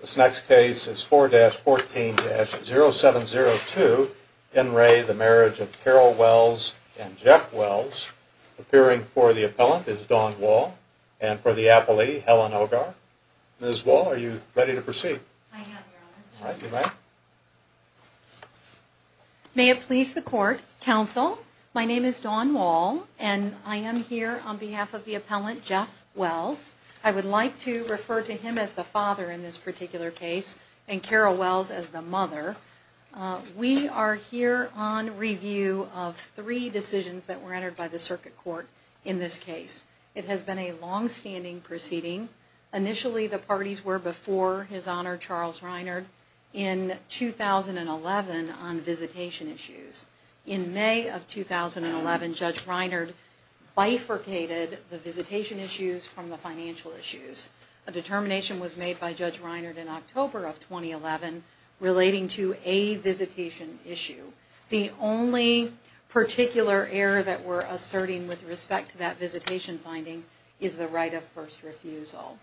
This next case is 4-14-0702. In re the Marriage of Carol Wells and Jeff Wells. Appearing for the appellant is Dawn Wall and for the appellee, Helen Ogar. Ms. Wall, are you ready to proceed? I am, Your Honor. Alright, you may. May it please the Court. Counsel, my name is Dawn Wall and I am here on behalf of the appellant, Jeff Wells. I would like to refer to him as the father in this particular case and Carol Wells as the mother. We are here on review of three decisions that were entered by the Circuit Court in this case. It has been a long-standing proceeding. Initially, the parties were before His Honor, Charles Reinard, in 2011 on visitation issues. In May of 2011, Judge Reinard bifurcated the visitation issues from the financial issues. A determination was made by Judge Reinard in October of 2011 relating to a visitation issue. The only particular error that we're asserting with respect to that visitation finding is the right of first refusal.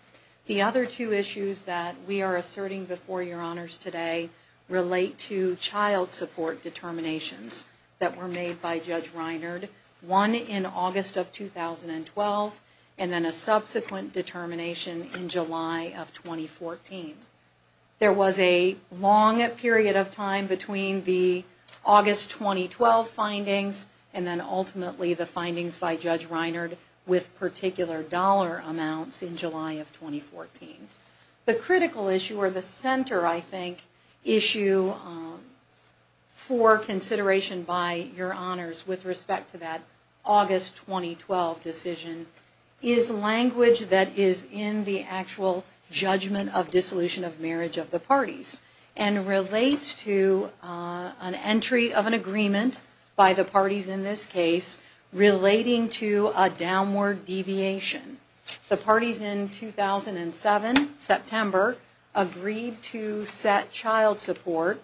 The other two issues that we are asserting before Your Honors today relate to child support determinations that were made by Judge Reinard, one in August of 2012 and then a subsequent determination in July of 2014. There was a long period of time between the August 2012 findings and then ultimately the findings by Judge Reinard with particular dollar amounts in July of 2014. The critical issue or the center, I think, issue for consideration by Your Honors with respect to that August 2012 decision is language that is in the actual judgment of dissolution of marriage of the parties and relates to an entry of an agreement by the parties in this case relating to a downward deviation. The parties in 2007, September, agreed to set child support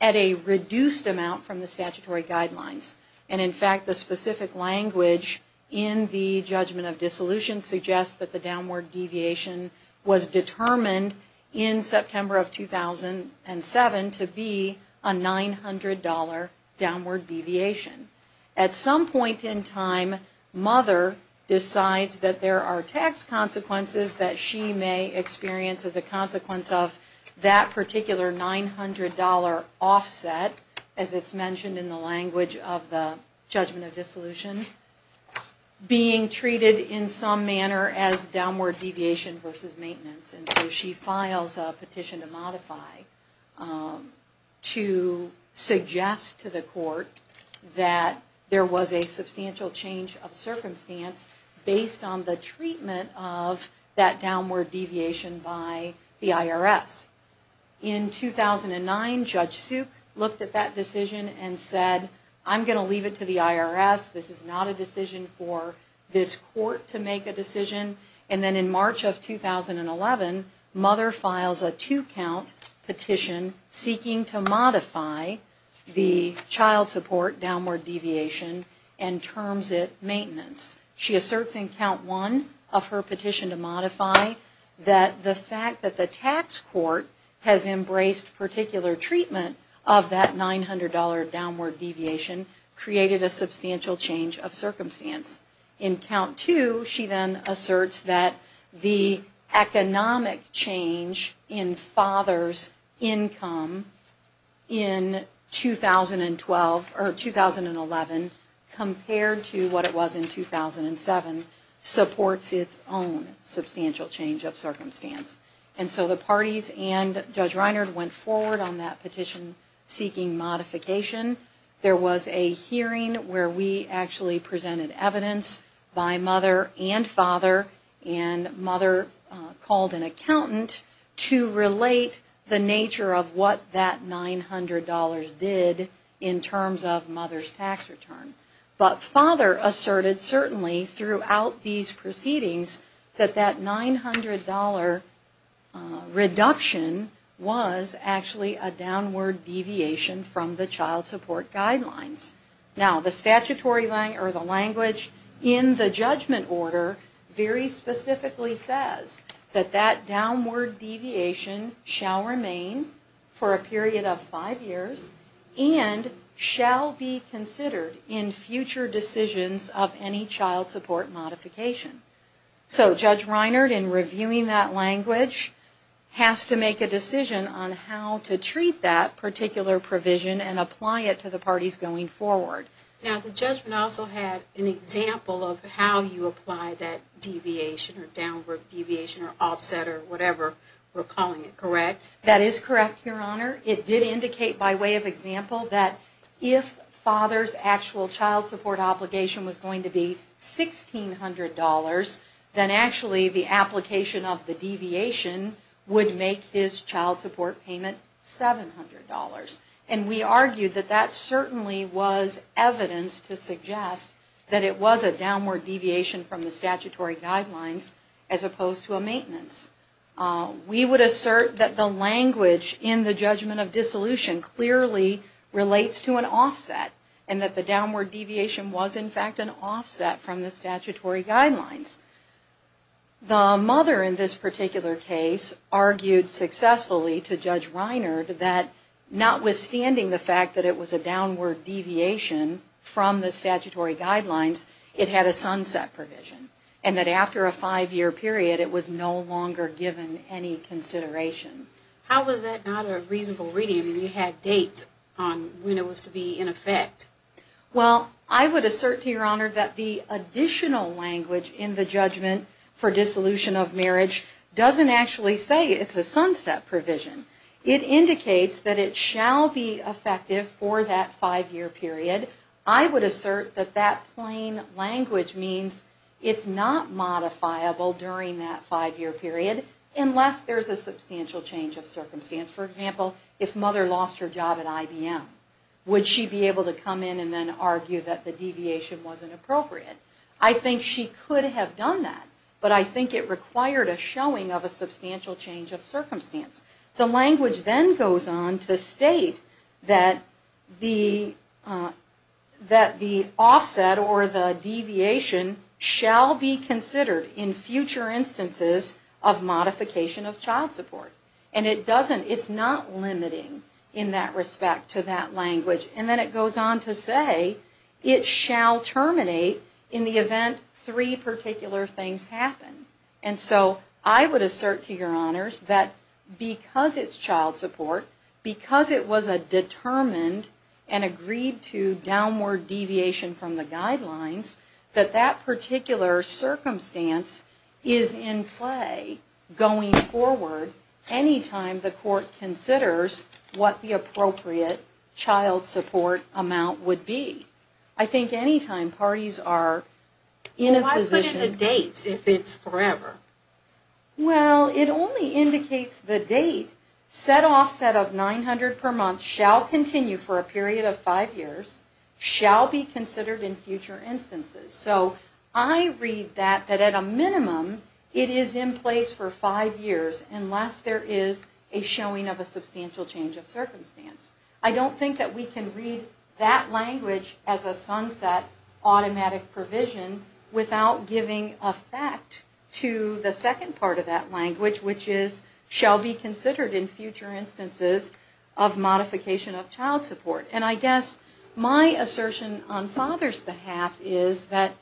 at a reduced amount from the statutory guidelines and in fact the specific language in the judgment of dissolution suggests that the downward deviation was determined in September of 2007 to be a $900 downward deviation. At some point in time, mother decides that there are tax consequences that she may experience as a consequence of that particular $900 offset, as it's mentioned in the language of the judgment of dissolution, being treated in some manner as downward deviation versus maintenance. And so she files a petition to modify to suggest to the court that there was a substantial change of circumstance based on the treatment of that downward deviation by the IRS. In 2009, Judge Suk looked at that decision and said, I'm going to leave it to the IRS. This is not a decision for this court to make a decision. And then in March of 2011, mother files a two-count petition seeking to modify the child support downward deviation and terms it maintenance. She asserts in count one of her petition to modify that the fact that the tax court has embraced particular treatment of that $900 downward deviation created a substantial change of circumstance. In count two, she then asserts that the economic change in father's income in 2011 compared to what it was in 2007 supports its own substantial change of circumstance. And so the parties and Judge Reinert went forward on that petition seeking modification. There was a hearing where we actually presented evidence by mother and father, and mother called an accountant to relate the nature of what that $900 did in terms of mother's tax return. But father asserted certainly throughout these proceedings that that $900 reduction was actually a downward deviation from the child support guidelines. Now, the statutory language in the judgment order very specifically says that that downward deviation shall remain for a period of five years and shall be considered in future decisions of any child support modification. So Judge Reinert, in reviewing that language, has to make a decision on how to treat that particular provision and apply it to the parties going forward. Now, the judgment also had an example of how you apply that deviation or downward deviation or offset or whatever we're calling it, correct? That is correct, Your Honor. It did indicate by way of example that if father's actual child support obligation was going to be $1,600, then actually the application of the deviation would make his child support payment $700. And we argued that that certainly was evidence to suggest that it was a downward deviation from the statutory guidelines as opposed to a maintenance. We would assert that the language in the judgment of dissolution clearly relates to an offset and that the downward deviation was in fact an offset from the statutory guidelines. The mother in this particular case argued successfully to Judge Reinert that notwithstanding the fact that it was a downward deviation from the statutory guidelines, it had a sunset provision. And that after a five-year period, it was no longer given any consideration. How was that not a reasonable reading when you had dates on when it was to be in effect? Well, I would assert to Your Honor that the additional language in the judgment for dissolution of marriage doesn't actually say it's a sunset provision. It indicates that it shall be effective for that five-year period. I would assert that that plain language means it's not modifiable during that five-year period unless there's a substantial change of circumstance. For example, if mother lost her job at IBM, would she be able to come in and then argue that the deviation wasn't appropriate? I think she could have done that, but I think it required a showing of a substantial change of circumstance. The language then goes on to state that the offset or the deviation shall be considered in future instances of modification of child support. And it doesn't, it's not limiting in that respect to that language. And then it goes on to say it shall terminate in the event three particular things happen. And so I would assert to Your Honors that because it's child support, because it was a determined and agreed to downward deviation from the guidelines, that that particular circumstance is in play going forward anytime the court considers what the appropriate child support amount would be. I think anytime parties are in a position... Why put in the dates if it's forever? Well, it only indicates the date. Set offset of 900 per month shall continue for a period of five years, shall be considered in future instances. So I read that that at a minimum it is in place for five years unless there is a showing of a substantial change of circumstance. I don't think that we can read that language as a sunset automatic provision without giving effect to the second part of that language, which is shall be considered in future instances of modification of child support. And I guess my assertion on father's behalf is that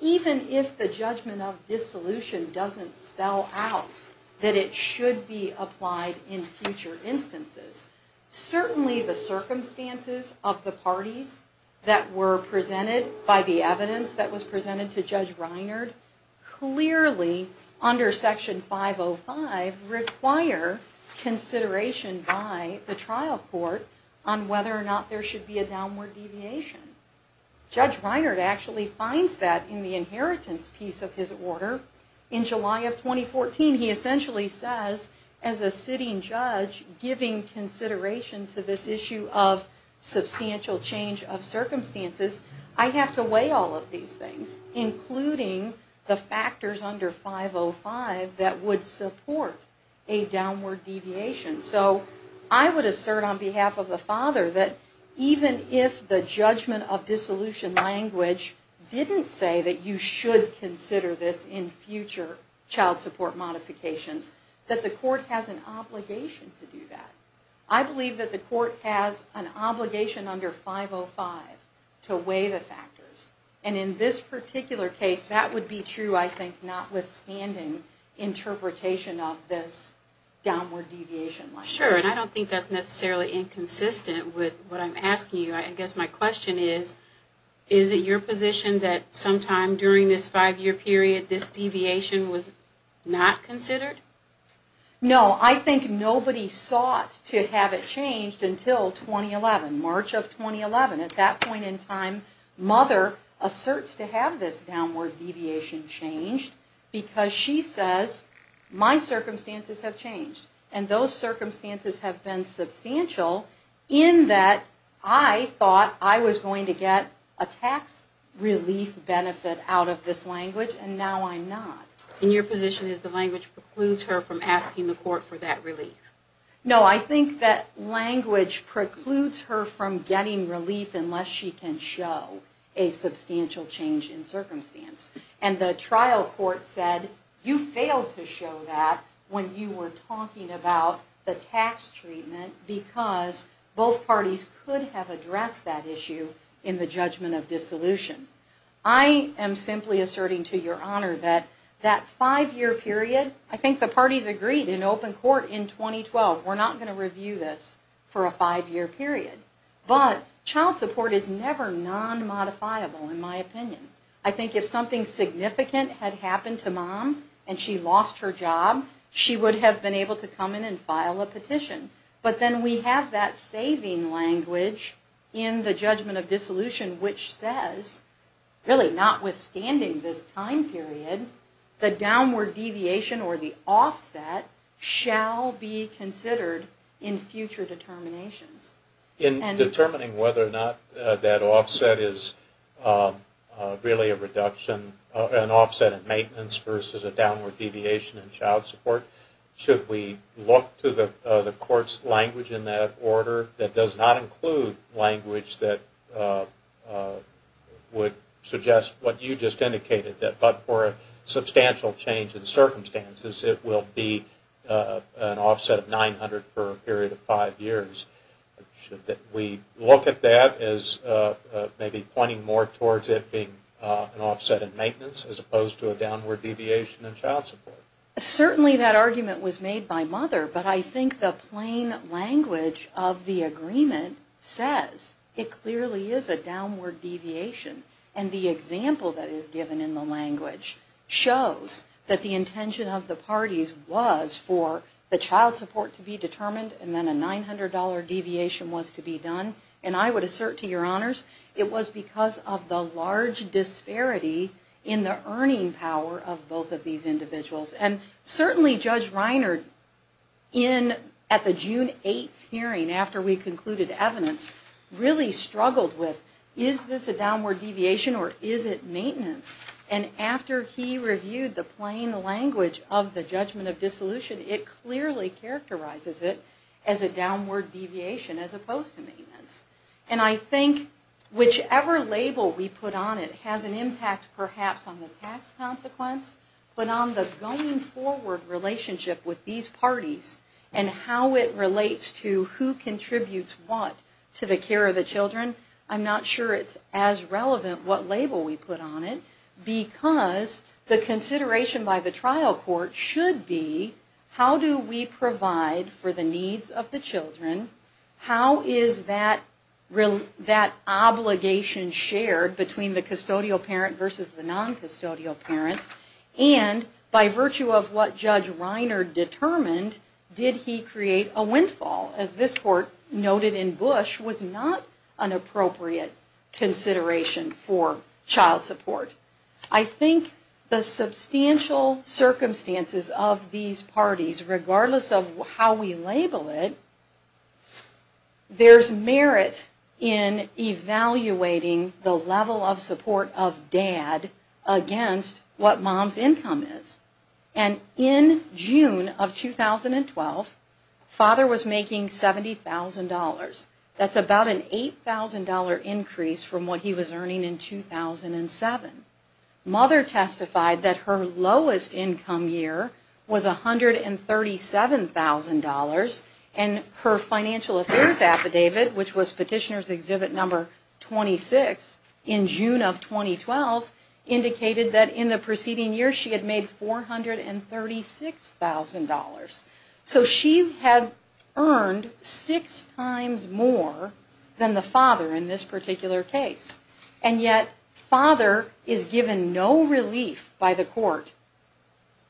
even if the judgment of dissolution doesn't spell out that it should be applied in future instances, certainly the circumstances of the parties that were presented by the evidence that was presented to Judge Reinhardt clearly under Section 505 require consideration by the trial court on whether or not there should be a downward deviation. Judge Reinhardt actually finds that in the inheritance piece of his order. In July of 2014, he essentially says as a sitting judge giving consideration to this issue of substantial change of circumstances, I have to weigh all of these things, including the factors under 505 that would support a downward deviation. So I would assert on behalf of the father that even if the judgment of dissolution language didn't say that you should consider this in future child support modifications, that the court has an obligation to do that. I believe that the court has an obligation under 505 to weigh the factors. And in this particular case, that would be true, I think, notwithstanding interpretation of this downward deviation language. Sure, and I don't think that's necessarily inconsistent with what I'm asking you. I guess my question is, is it your position that sometime during this five-year period this deviation was not considered? No, I think nobody sought to have it changed until 2011, March of 2011. At that point in time, mother asserts to have this downward deviation changed because she says my circumstances have changed. And those circumstances have been substantial in that I thought I was going to get a tax relief benefit out of this language, and now I'm not. And your position is the language precludes her from asking the court for that relief? No, I think that language precludes her from getting relief unless she can show a substantial change in circumstance. And the trial court said you failed to show that when you were talking about the tax treatment, because both parties could have addressed that issue in the judgment of dissolution. I am simply asserting to your honor that that five-year period, I think the parties agreed in open court in 2012, we're not going to review this for a five-year period. But child support is never non-modifiable in my opinion. I think if something significant had happened to mom and she lost her job, she would have been able to come in and file a petition. But then we have that saving language in the judgment of dissolution which says, really notwithstanding this time period, the downward deviation or the offset shall be considered in future determinations. In determining whether or not that offset is really an offset in maintenance versus a downward deviation in child support, should we look to the court's language in that order that does not include language that would suggest what you just indicated, that but for a substantial change in circumstances, it will be an offset of 900 for a period of five years? Should we look at that as maybe pointing more towards it being an offset in maintenance as opposed to a downward deviation in child support? Certainly that argument was made by mother, but I think the plain language of the agreement says it clearly is a downward deviation. And the example that is given in the language shows that the intention of the parties was for the child support to be determined and then a $900 deviation was to be done. And I would assert to your honors, it was because of the large disparity in the earning power of both of these individuals. And certainly Judge Reiner, at the June 8th hearing after we concluded evidence, really struggled with, is this a downward deviation or is it maintenance? And after he reviewed the plain language of the judgment of dissolution, it clearly characterizes it as a downward deviation as opposed to maintenance. And I think whichever label we put on it has an impact perhaps on the tax consequence, but on the going forward relationship with these parties and how it relates to who contributes what to the care of the children, I'm not sure it's as relevant what label we put on it, because the consideration by the trial court should be how do we provide for the needs of the children, how is that obligation shared between the custodial parent versus the non-custodial parent, and by virtue of what Judge Reiner determined, did he create a windfall? As this court noted in Bush, was not an appropriate consideration for child support. I think the substantial circumstances of these parties, regardless of how we label it, there's merit in evaluating the level of support of dad against what mom's income is. And in June of 2012, father was making $70,000. That's about an $8,000 increase from what he was earning in 2007. Mother testified that her lowest income year was $137,000, and her financial affairs affidavit, which was Petitioner's Exhibit Number 26 in June of 2012, indicated that in the preceding year she had made $436,000. So she had earned six times more than the father in this particular case. And yet father is given no relief by the court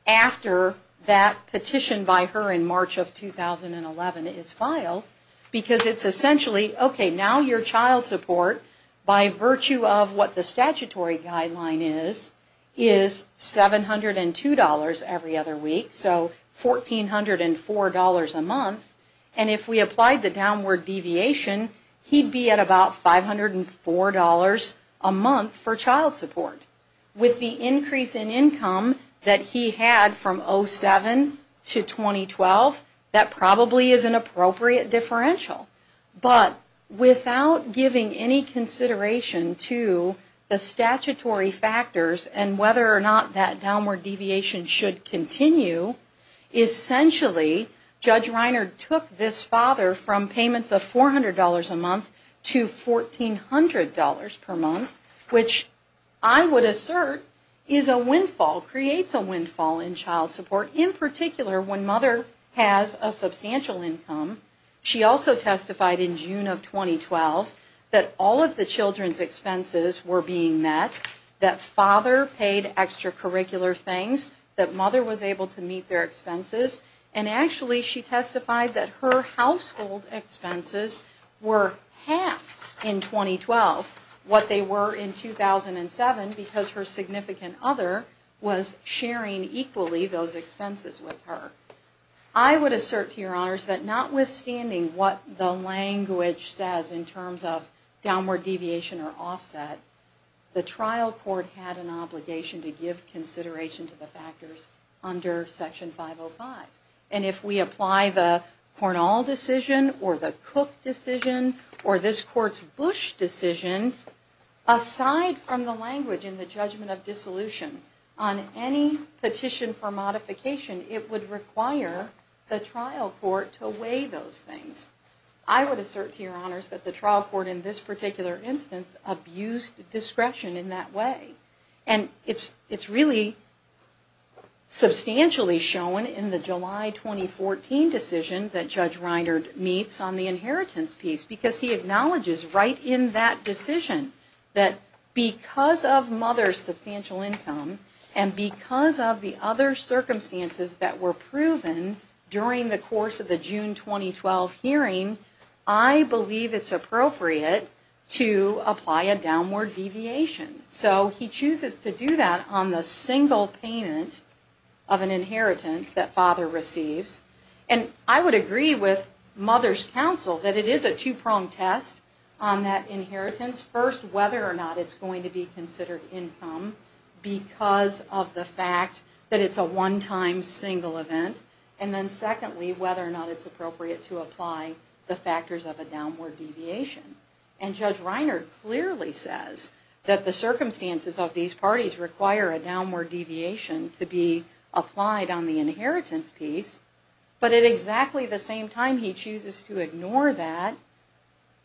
after that petition by her in March of 2011 is filed, because it's essentially, okay, now your child support, by virtue of what the statutory guideline is, is $702 every other week, so $1,404 a month. And if we applied the downward deviation, he'd be at about $504 a month for child support. With the increase in income that he had from 2007 to 2012, that probably is an appropriate differential. But without giving any consideration to the statutory factors and whether or not that downward deviation should continue, essentially Judge Reiner took this father from payments of $400 a month to $1,400 per month, which I would assert is a windfall, creates a windfall in child support, in particular when mother has a substantial income. She also testified in June of 2012 that all of the children's expenses were being met, that father paid extracurricular things, that mother was able to meet their expenses, and actually she testified that her household expenses were half in 2012 what they were in 2007, because her significant other was sharing equally those expenses with her. I would assert, Your Honors, that notwithstanding what the language says in terms of downward deviation or offset, the trial court had an obligation to give consideration to the factors under Section 505. And if we apply the Cornell decision or the Cook decision or this Court's Bush decision, aside from the language in the judgment of dissolution on any petition for modification, it would require the trial court to weigh those things. I would assert, Your Honors, that the trial court in this particular instance abused discretion in that way. And it's really substantially shown in the July 2014 decision that Judge Reiner meets on the inheritance piece, because he acknowledges right in that decision that because of mother's substantial income and because of the other circumstances that were proven during the course of the June 2012 hearing, I believe it's appropriate to apply a downward deviation. So he chooses to do that on the single payment of an inheritance that father receives. And I would agree with mother's counsel that it is a two-pronged test on that inheritance, first, whether or not it's going to be considered income because of the fact that it's a one-time single event, and then secondly, whether or not it's appropriate to apply the factors of a downward deviation. And Judge Reiner clearly says that the circumstances of these parties require a downward deviation to be applied on the inheritance piece. But at exactly the same time, he chooses to ignore that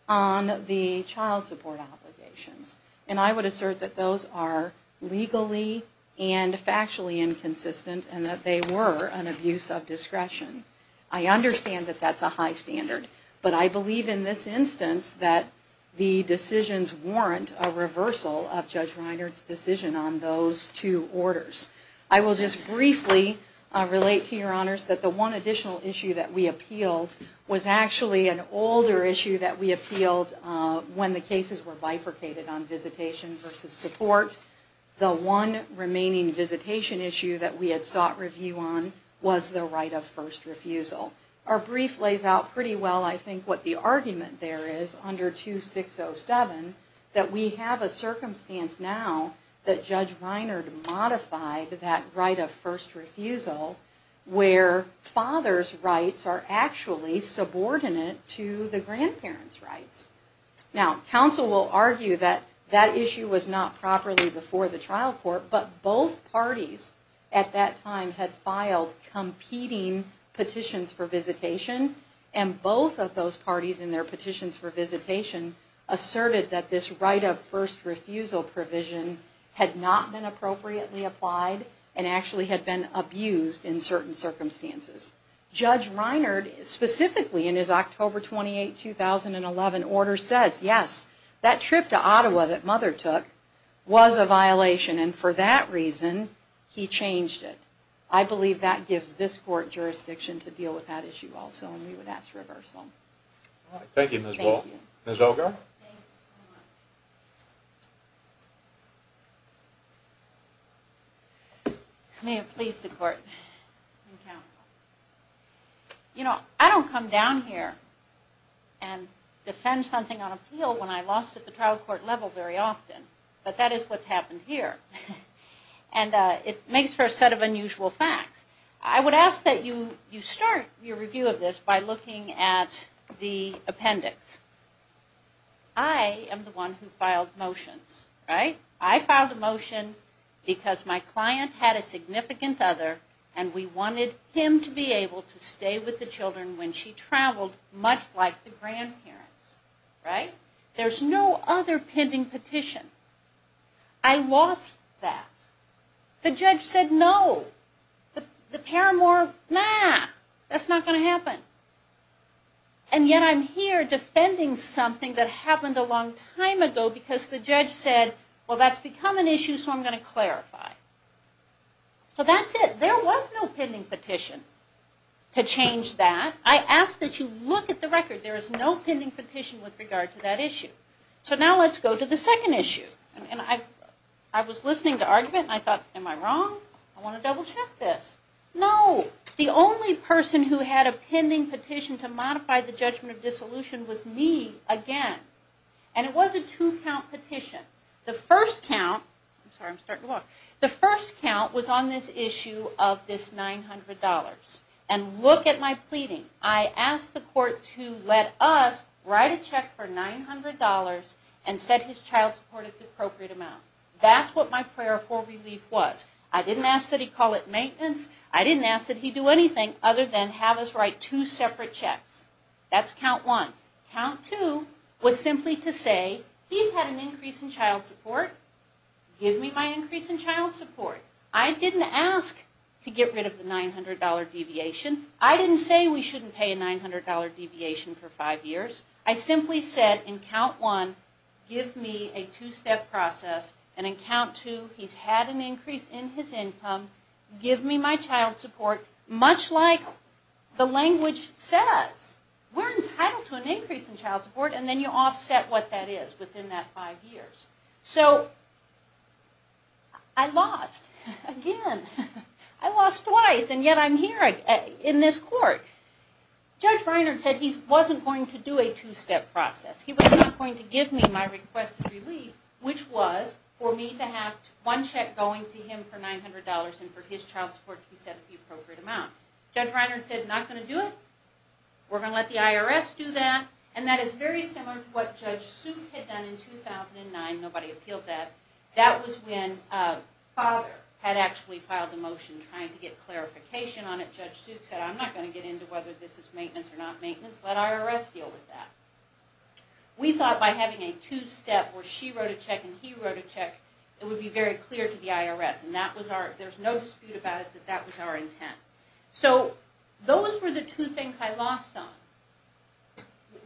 on the child support obligations. And I would assert that those are legally and factually inconsistent and that they were an abuse of discretion. I understand that that's a high standard. But I believe in this instance that the decisions warrant a reversal of Judge Reiner's decision on those two orders. I will just briefly relate to your honors that the one additional issue that we appealed was actually an older issue that we appealed when the cases were bifurcated on visitation versus support. The one remaining visitation issue that we had sought review on was the right of first refusal. Our brief lays out pretty well, I think, what the argument there is under 2607, that we have a circumstance now that Judge Reiner modified that right of first refusal where father's rights are actually subordinate to the grandparents' rights. Now, counsel will argue that that issue was not properly before the trial court, but both parties at that time had filed competing petitions for visitation, and both of those parties in their petitions for visitation asserted that this right of first refusal provision had not been appropriately applied and actually had been abused in certain circumstances. Judge Reiner, specifically in his October 28, 2011 order, says yes, that trip to Ottawa that mother took was a violation and for that reason he changed it. I believe that gives this court jurisdiction to deal with that issue also, and we would ask for a reversal. Thank you, Ms. Wall. Ms. Oger? You know, I don't come down here and defend something on appeal when I lost at the trial court level very often, but that is what's happened here. And it makes for a set of unusual facts. I would ask that you start your review of this by looking at the appendix. I am the one who filed motions, right? I filed a motion because my client had a significant other, and we wanted him to be able to stay with the children when she traveled, much like the grandparents, right? There's no other pending petition. I lost that. The judge said no. The paramour, nah, that's not going to happen. And yet I'm here defending something that happened a long time ago because the judge said, well that's become an issue so I'm going to clarify. So that's it. There was no pending petition to change that. I ask that you look at the record. There is no pending petition with regard to that issue. So now let's go to the second issue. And I was listening to argument and I thought, am I wrong? I want to double check this. No. The only person who had a pending petition to modify the judgment of dissolution was me again. And it was a two-count petition. The first count was on this issue of this $900. And look at my pleading. I asked the court to let us write a check for $900 and set his child support at the appropriate amount. That's what my prayer for relief was. I didn't ask that he call it maintenance. I didn't ask that he do anything other than have us write two separate checks. That's count one. Count two was simply to say, he's had an increase in child support. Give me my increase in child support. I didn't ask to get rid of the $900 deviation. I didn't say we shouldn't pay a $900 deviation for five years. I simply said in count one, give me a two-step process. And in count two, he's had an increase in his income. Give me my child support. Much like the language says. We're entitled to an increase in child support. And then you offset what that is within that five years. So I lost again. I lost twice. And yet I'm here in this court. Judge Reinhardt said he wasn't going to do a two-step process. He was not going to give me my request of relief, which was for me to have one check going to him for $900 and for his child support to be set at the appropriate amount. Judge Reinhardt said, not going to do it. We're going to let the IRS do that. And that is very similar to what Judge Suit had done in 2009. Nobody appealed that. That was when Father had actually filed a motion trying to get clarification on it. Judge Suit said, I'm not going to get into whether this is maintenance or not maintenance. Let IRS deal with that. We thought by having a two-step where she wrote a check and he wrote a check, it would be very clear to the IRS. And there's no dispute about it that that was our intent. So those were the two things I lost on.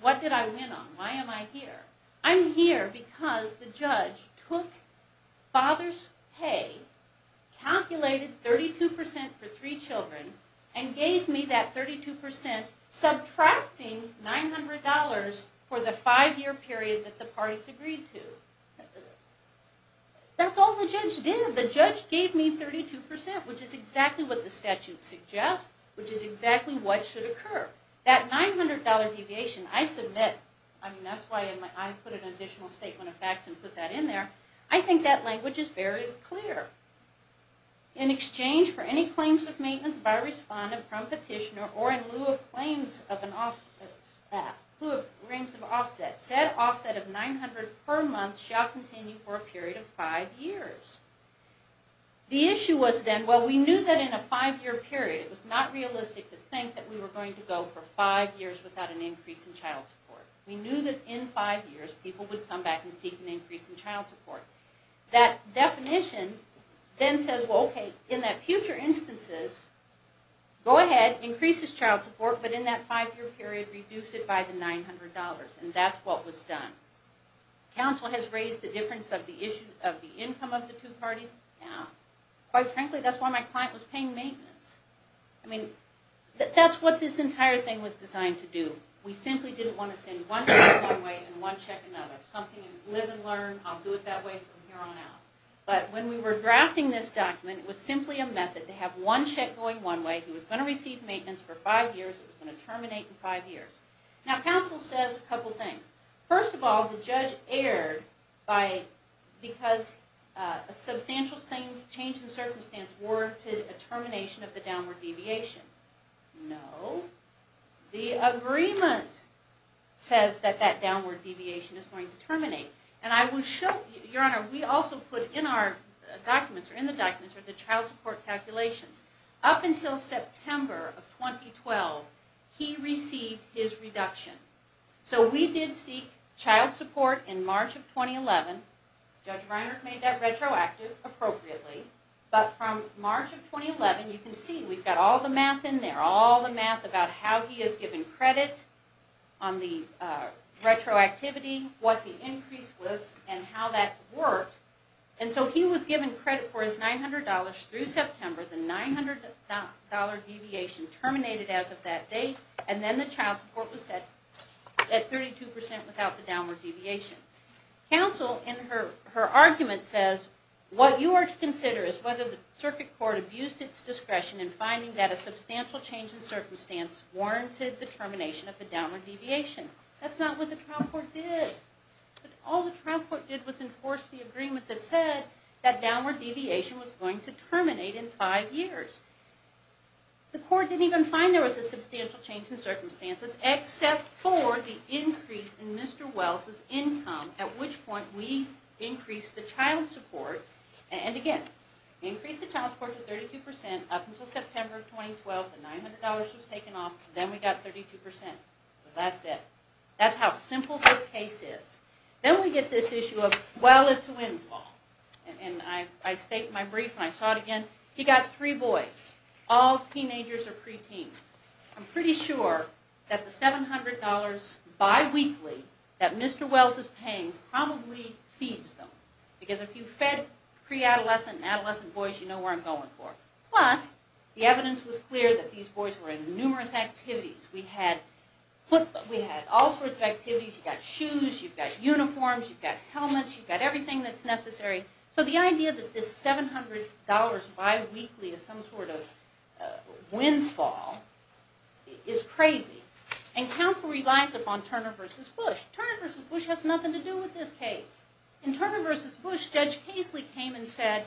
What did I win on? Why am I here? I'm here because the judge took Father's pay, calculated 32% for three children, and gave me that 32% subtracting $900 for the five-year period that the parties agreed to. That's all the judge did. The judge gave me 32%, which is exactly what the statute suggests, which is exactly what should occur. That $900 deviation, I submit, I mean, that's why I put an additional statement of facts and put that in there. I think that language is very clear. In exchange for any claims of maintenance by respondent from petitioner or in lieu of claims of an offset, in lieu of claims of offset, said offset of $900 per month shall continue for a period of five years. The issue was then, well, we knew that in a five-year period, it was not realistic to think that we were going to go for five years without an increase in child support. We knew that in five years, people would come back and seek an increase in child support. That definition then says, well, okay, in the future instances, go ahead, increase this child support, but in that five-year period, reduce it by the $900, and that's what was done. Counsel has raised the difference of the income of the two parties. Quite frankly, that's why my client was paying maintenance. I mean, that's what this entire thing was designed to do. We simply didn't want to send one check one way and one check another. Something to live and learn, I'll do it that way from here on out. But when we were drafting this document, it was simply a method to have one check going one way. He was going to receive maintenance for five years. It was going to terminate in five years. Now, counsel says a couple things. First of all, the judge erred because a substantial change in circumstance warranted a termination of the downward deviation. No. The agreement says that that downward deviation is going to terminate. Your Honor, we also put in our documents, or in the documents, the child support calculations. Up until September of 2012, he received his reduction. So we did seek child support in March of 2011. Judge Reinert made that retroactive appropriately. But from March of 2011, you can see we've got all the math in there. All the math about how he has given credit on the retroactivity, what the increase was, and how that worked. And so he was given credit for his $900 through September. The $900 deviation terminated as of that date. And then the child support was set at 32% without the downward deviation. Counsel, in her argument, says what you are to consider is whether the circuit court abused its discretion in finding that a substantial change in circumstance warranted the termination of the downward deviation. That's not what the trial court did. All the trial court did was enforce the agreement that said that downward deviation was going to terminate in five years. The court didn't even find there was a substantial change in circumstances, except for the increase in Mr. Wells' income, at which point we increased the child support. And again, increased the child support to 32% up until September of 2012. The $900 was taken off. Then we got 32%. That's it. That's how simple this case is. Then we get this issue of, well, it's a windfall. And I state in my brief, and I saw it again, he got three boys, all teenagers or preteens. I'm pretty sure that the $700 biweekly that Mr. Wells is paying probably feeds them. Because if you fed preadolescent and adolescent boys, you know where I'm going for. Plus, the evidence was clear that these boys were in numerous activities. We had football. We had all sorts of activities. You've got shoes. You've got uniforms. You've got helmets. You've got everything that's necessary. So the idea that this $700 biweekly is some sort of windfall is crazy. And counsel relies upon Turner v. Bush. Turner v. Bush has nothing to do with this case. In Turner v. Bush, Judge Casely came and said,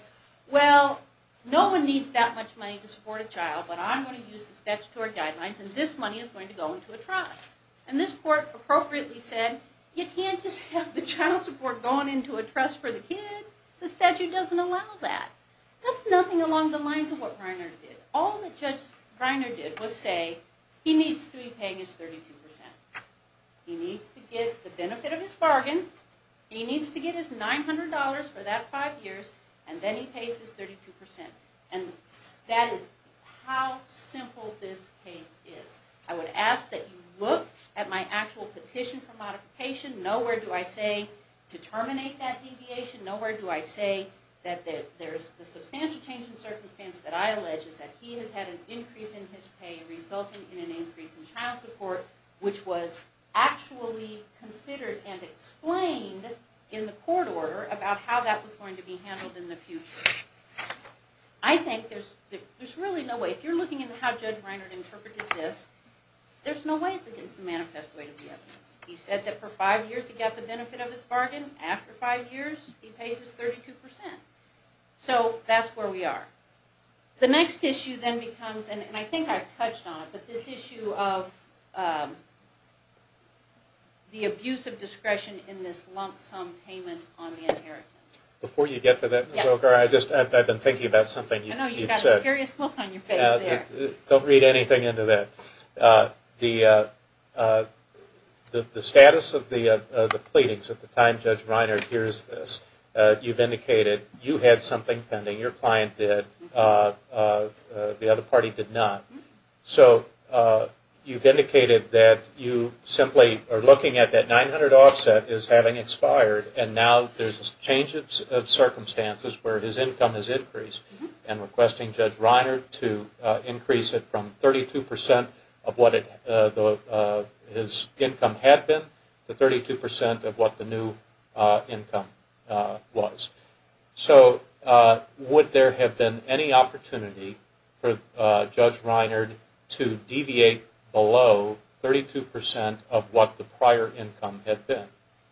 well, no one needs that much money to support a child, but I'm going to use the statutory guidelines, and this money is going to go into a trust. And this court appropriately said, you can't just have the child support going into a trust for the kid. The statute doesn't allow that. That's nothing along the lines of what Reiner did. All that Judge Reiner did was say, he needs to be paying his 32%. He needs to get the benefit of his bargain. He needs to get his $900 for that five years, and then he pays his 32%. And that is how simple this case is. I would ask that you look at my actual petition for modification. Nowhere do I say to terminate that deviation. Nowhere do I say that the substantial change in circumstance that I allege is that he has had an increase in his pay resulting in an increase in child support, which was actually considered and explained in the court order about how that was going to be handled in the future. I think there's really no way. If you're looking at how Judge Reiner interpreted this, there's no way it's against the manifest way of the evidence. He said that for five years he got the benefit of his bargain. After five years, he pays his 32%. So that's where we are. The next issue then becomes, and I think I've touched on it, but this issue of the abuse of discretion in this lump sum payment on the inheritance. Before you get to that, Ms. Wilker, I've been thinking about something you've said. You've got a serious look on your face there. Don't read anything into that. The status of the pleadings at the time Judge Reiner hears this, you've indicated you had something pending, your client did, the other party did not. So you've indicated that you simply are looking at that 900 offset as having expired and now there's a change of circumstances where his income has increased and requesting Judge Reiner to increase it from 32% of what his income had been to 32% of what the new income was. So would there have been any opportunity for Judge Reiner to deviate below 32% of what the prior income had been?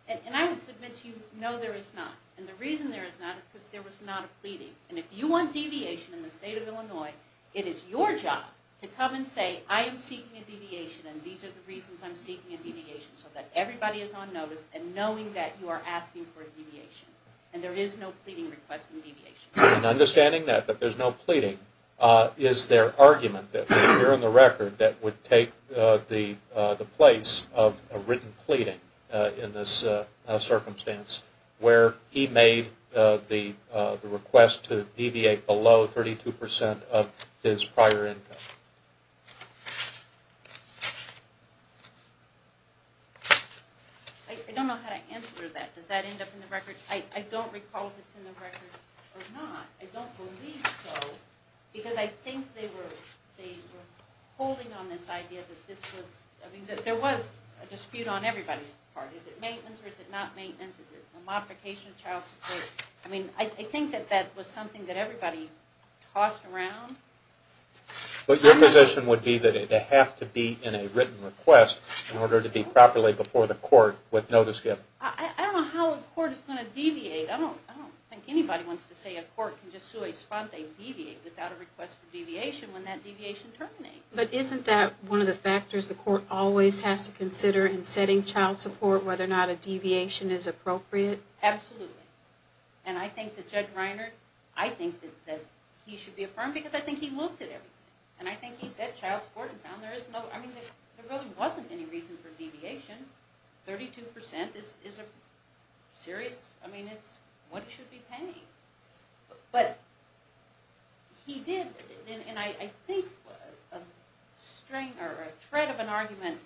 And I would submit to you, no, there is not. And the reason there is not is because there was not a pleading. And if you want deviation in the state of Illinois, it is your job to come and say, I am seeking a deviation and these are the reasons I'm seeking a deviation, so that everybody is on notice and knowing that you are asking for a deviation. And there is no pleading requesting deviation. And understanding that, that there's no pleading, is there argument here in the record that would take the place of a written pleading in this circumstance where he made the request to deviate below 32% of his prior income? I don't know how to answer that. Does that end up in the record? I don't recall if it's in the record or not. I don't believe so. Because I think they were holding on this idea that there was a dispute on everybody's part. Is it maintenance or is it not maintenance? Is it a modification of child support? I mean, I think that that was something that everybody tossed around. But your position would be that it would have to be in a written request in order to be properly before the court with notice given. I don't know how a court is going to deviate. I don't think anybody wants to say a court can just sue a sponte and deviate without a request for deviation when that deviation terminates. But isn't that one of the factors the court always has to consider in setting child support, whether or not a deviation is appropriate? Absolutely. And I think that Judge Reiner, I think that he should be affirmed because I think he looked at everything. And I think he set child support and found there really wasn't any reason for deviation. Thirty-two percent, is it serious? I mean, it's what it should be paying. But he did, and I think a threat of an argument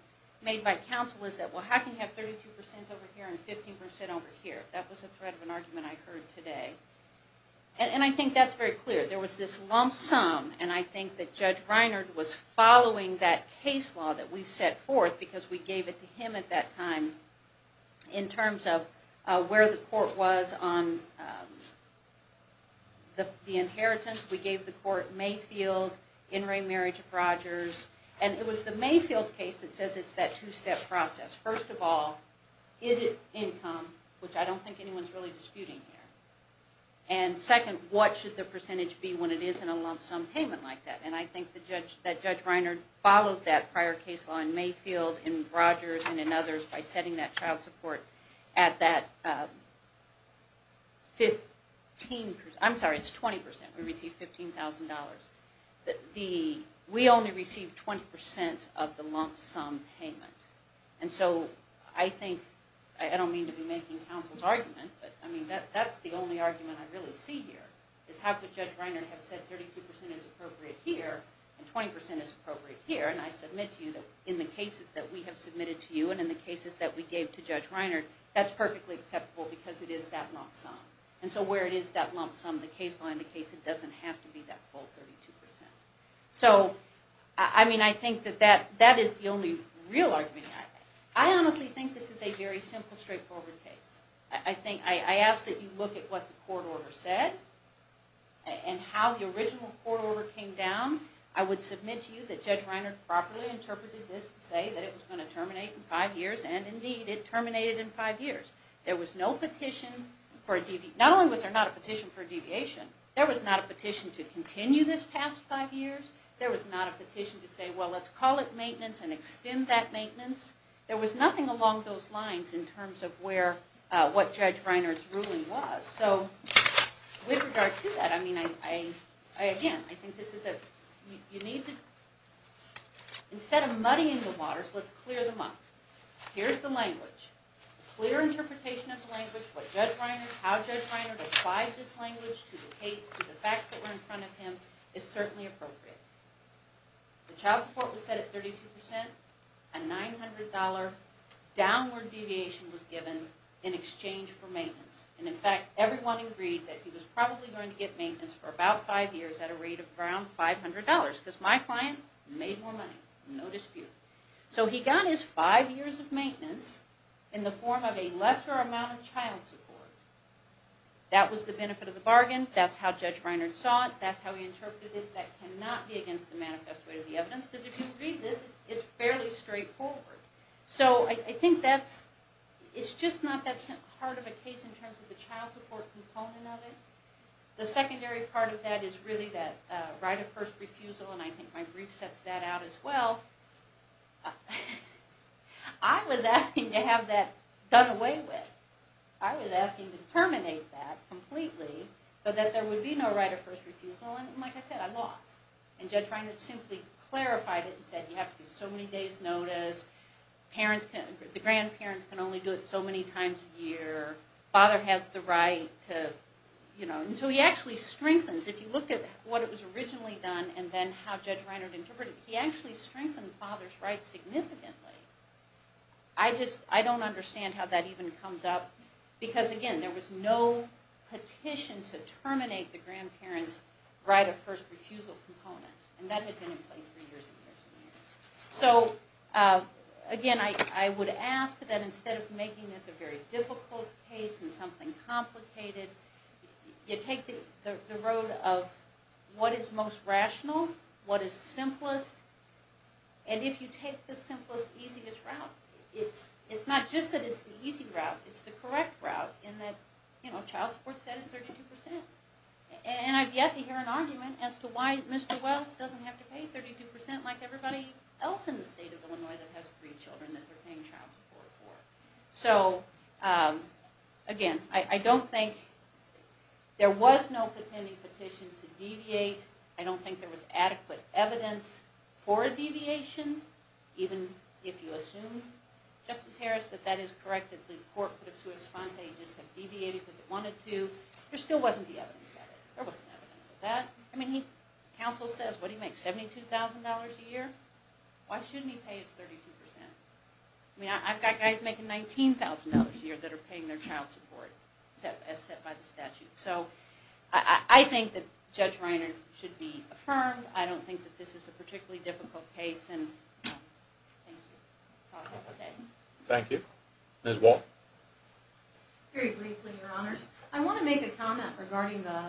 made by counsel is that, well, how can you have 32 percent over here and 15 percent over here? That was a threat of an argument I heard today. And I think that's very clear. There was this lump sum, and I think that Judge Reiner was following that case law that we've set forth because we gave it to him at that time in terms of where the court was on the inheritance. We gave the court Mayfield, In re Marriage of Rogers. And it was the Mayfield case that says it's that two-step process. First of all, is it income, which I don't think anyone's really disputing here. And second, what should the percentage be when it is in a lump sum payment like that? And I think that Judge Reiner followed that prior case law in Mayfield, in Rogers, and in others by setting that child support at that 15 percent. I'm sorry, it's 20 percent. We received $15,000. We only received 20 percent of the lump sum payment. And so I think, I don't mean to be making counsel's argument, but that's the only argument I really see here, is how could Judge Reiner have said 32 percent is appropriate here and 20 percent is appropriate here, and I submit to you that in the cases that we have submitted to you and in the cases that we gave to Judge Reiner, that's perfectly acceptable because it is that lump sum. And so where it is that lump sum, the case law indicates it doesn't have to be that full 32 percent. So, I mean, I think that that is the only real argument. I honestly think this is a very simple, straightforward case. I ask that you look at what the court order said and how the original court order came down. I would submit to you that Judge Reiner properly interpreted this to say that it was going to terminate in five years, and indeed it terminated in five years. There was no petition for a deviation. Not only was there not a petition for a deviation, there was not a petition to continue this past five years. There was not a petition to say, well, let's call it maintenance and extend that maintenance. There was nothing along those lines in terms of what Judge Reiner's ruling was. So, with regard to that, I mean, again, I think this is a, you need to, instead of muddying the waters, let's clear them up. Here's the language. Clear interpretation of the language, what Judge Reiner, how Judge Reiner defies this language to the facts that were in front of him is certainly appropriate. The child support was set at 32%. A $900 downward deviation was given in exchange for maintenance. And, in fact, everyone agreed that he was probably going to get maintenance for about five years at a rate of around $500, because my client made more money, no dispute. So he got his five years of maintenance in the form of a lesser amount of child support. That was the benefit of the bargain. That's how Judge Reiner saw it. That's how he interpreted it. That cannot be against the manifest way of the evidence, because if you read this, it's fairly straightforward. So I think that's, it's just not that hard of a case in terms of the child support component of it. The secondary part of that is really that right of first refusal, and I think my brief sets that out as well. I was asking to have that done away with. I was asking to terminate that completely, so that there would be no right of first refusal, and like I said, I lost. And Judge Reiner simply clarified it and said, you have to give so many days notice, the grandparents can only do it so many times a year, father has the right to, you know. And so he actually strengthens. If you look at what was originally done and then how Judge Reiner interpreted it, he actually strengthened father's right significantly. I just, I don't understand how that even comes up, because again, there was no petition to terminate the grandparents right of first refusal component, and that had been in place for years and years and years. So again, I would ask that instead of making this a very difficult case and something complicated, you take the road of what is most rational, what is simplest, and if you take the simplest, easiest route, it's not just that it's the easy route, it's the correct route in that, you know, child support is added 32%. And I've yet to hear an argument as to why Mr. Wells doesn't have to pay 32% like everybody else in the state of Illinois that has three children that they're paying child support for. So again, I don't think, there was no pending petition to deviate. I don't think there was adequate evidence for a deviation, even if you assume, Justice Harris, that that is correct, that the court could have sua sponte, just deviated if it wanted to. There still wasn't the evidence of it. There wasn't evidence of that. I mean, counsel says, what do you make, $72,000 a year? Why shouldn't he pay his 32%? I mean, I've got guys making $19,000 a year that are paying their child support, as set by the statute. So I think that Judge Reiner should be affirmed. I don't think that this is a particularly difficult case, and thank you. Thank you. Ms. Wall. Very briefly, Your Honors. I want to make a comment regarding the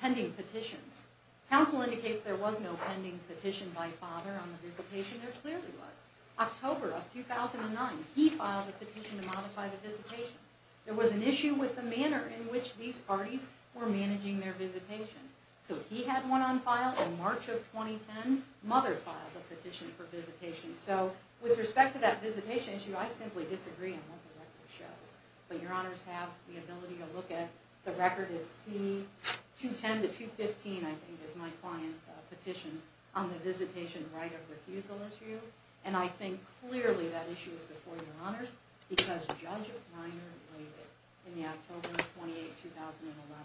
pending petitions. Counsel indicates there was no pending petition by father on the visitation. There clearly was. October of 2009, he filed a petition to modify the visitation. There was an issue with the manner in which these parties were managing their visitation. So he had one on file in March of 2010. Mother filed a petition for visitation. So with respect to that visitation issue, I simply disagree on what the record shows. But Your Honors have the ability to look at the record. It's C-210 to 215, I think, is my client's petition on the visitation right of refusal issue. And I think clearly that issue is before Your Honors because Judge Reiner made it in the October 28, 2011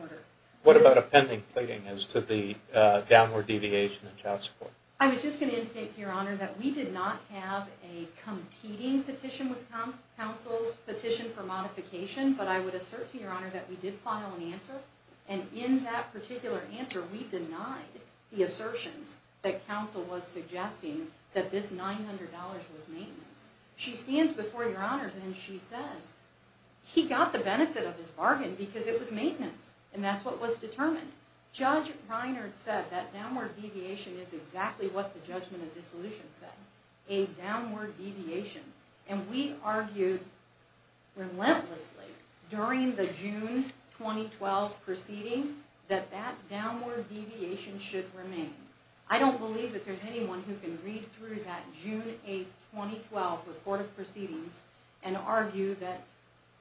order. What about a pending pleading as to the downward deviation in child support? I was just going to indicate to Your Honor that we did not have a competing petition with counsel's petition for modification. But I would assert to Your Honor that we did file an answer. And in that particular answer, we denied the assertions that counsel was suggesting that this $900 was maintenance. She stands before Your Honors and she says, he got the benefit of his bargain because it was maintenance. And that's what was determined. Judge Reiner said that downward deviation is exactly what the judgment of dissolution said. A downward deviation. And we argued relentlessly during the June 2012 proceeding that that downward deviation should remain. I don't believe that there's anyone who can read through that June 8, 2012 report of proceedings and argue that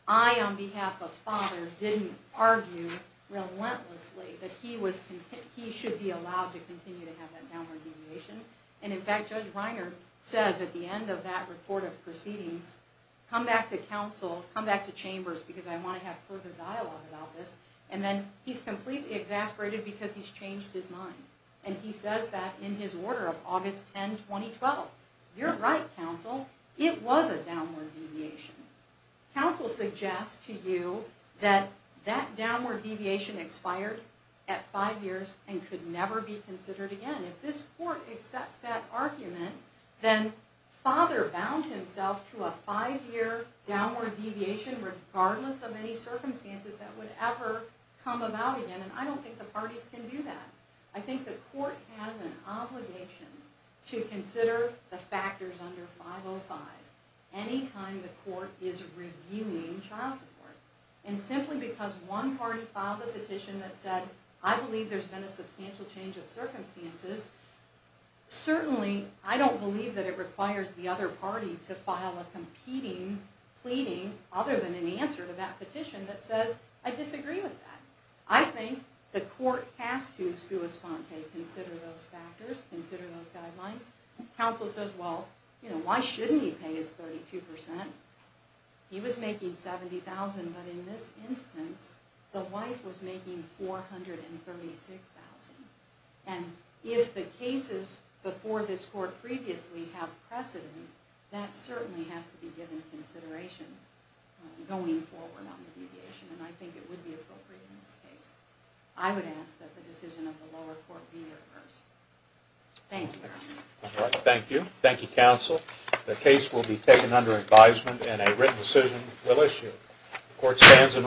I, on behalf of father, didn't argue relentlessly that he should be allowed to continue to have that downward deviation. And in fact, Judge Reiner says at the end of that report of proceedings, come back to counsel, come back to chambers, because I want to have further dialogue about this. And then he's completely exasperated because he's changed his mind. And he says that in his order of August 10, 2012. You're right, counsel. It was a downward deviation. Counsel suggests to you that that downward deviation expired at five years and could never be considered again. If this court accepts that argument, then father bound himself to a five-year downward deviation regardless of any circumstances that would ever come about again. And I don't think the parties can do that. I think the court has an obligation to consider the factors under 505 any time the court is reviewing child support. And simply because one party filed a petition that said, I believe there's been a substantial change of circumstances, certainly I don't believe that it requires the other party to file a competing pleading other than an answer to that petition that says, I disagree with that. I think the court has to sua sponte, consider those factors, consider those guidelines. Counsel says, well, why shouldn't he pay his 32%? He was making $70,000, but in this instance, the wife was making $436,000. And if the cases before this court previously have precedent, that certainly has to be given consideration going forward on the deviation. And I think it would be appropriate in this case. I would ask that the decision of the lower court be reversed. Thank you, Your Honor. Thank you. Thank you, counsel. The case will be taken under advisement and a written decision will issue. The court stands in recess.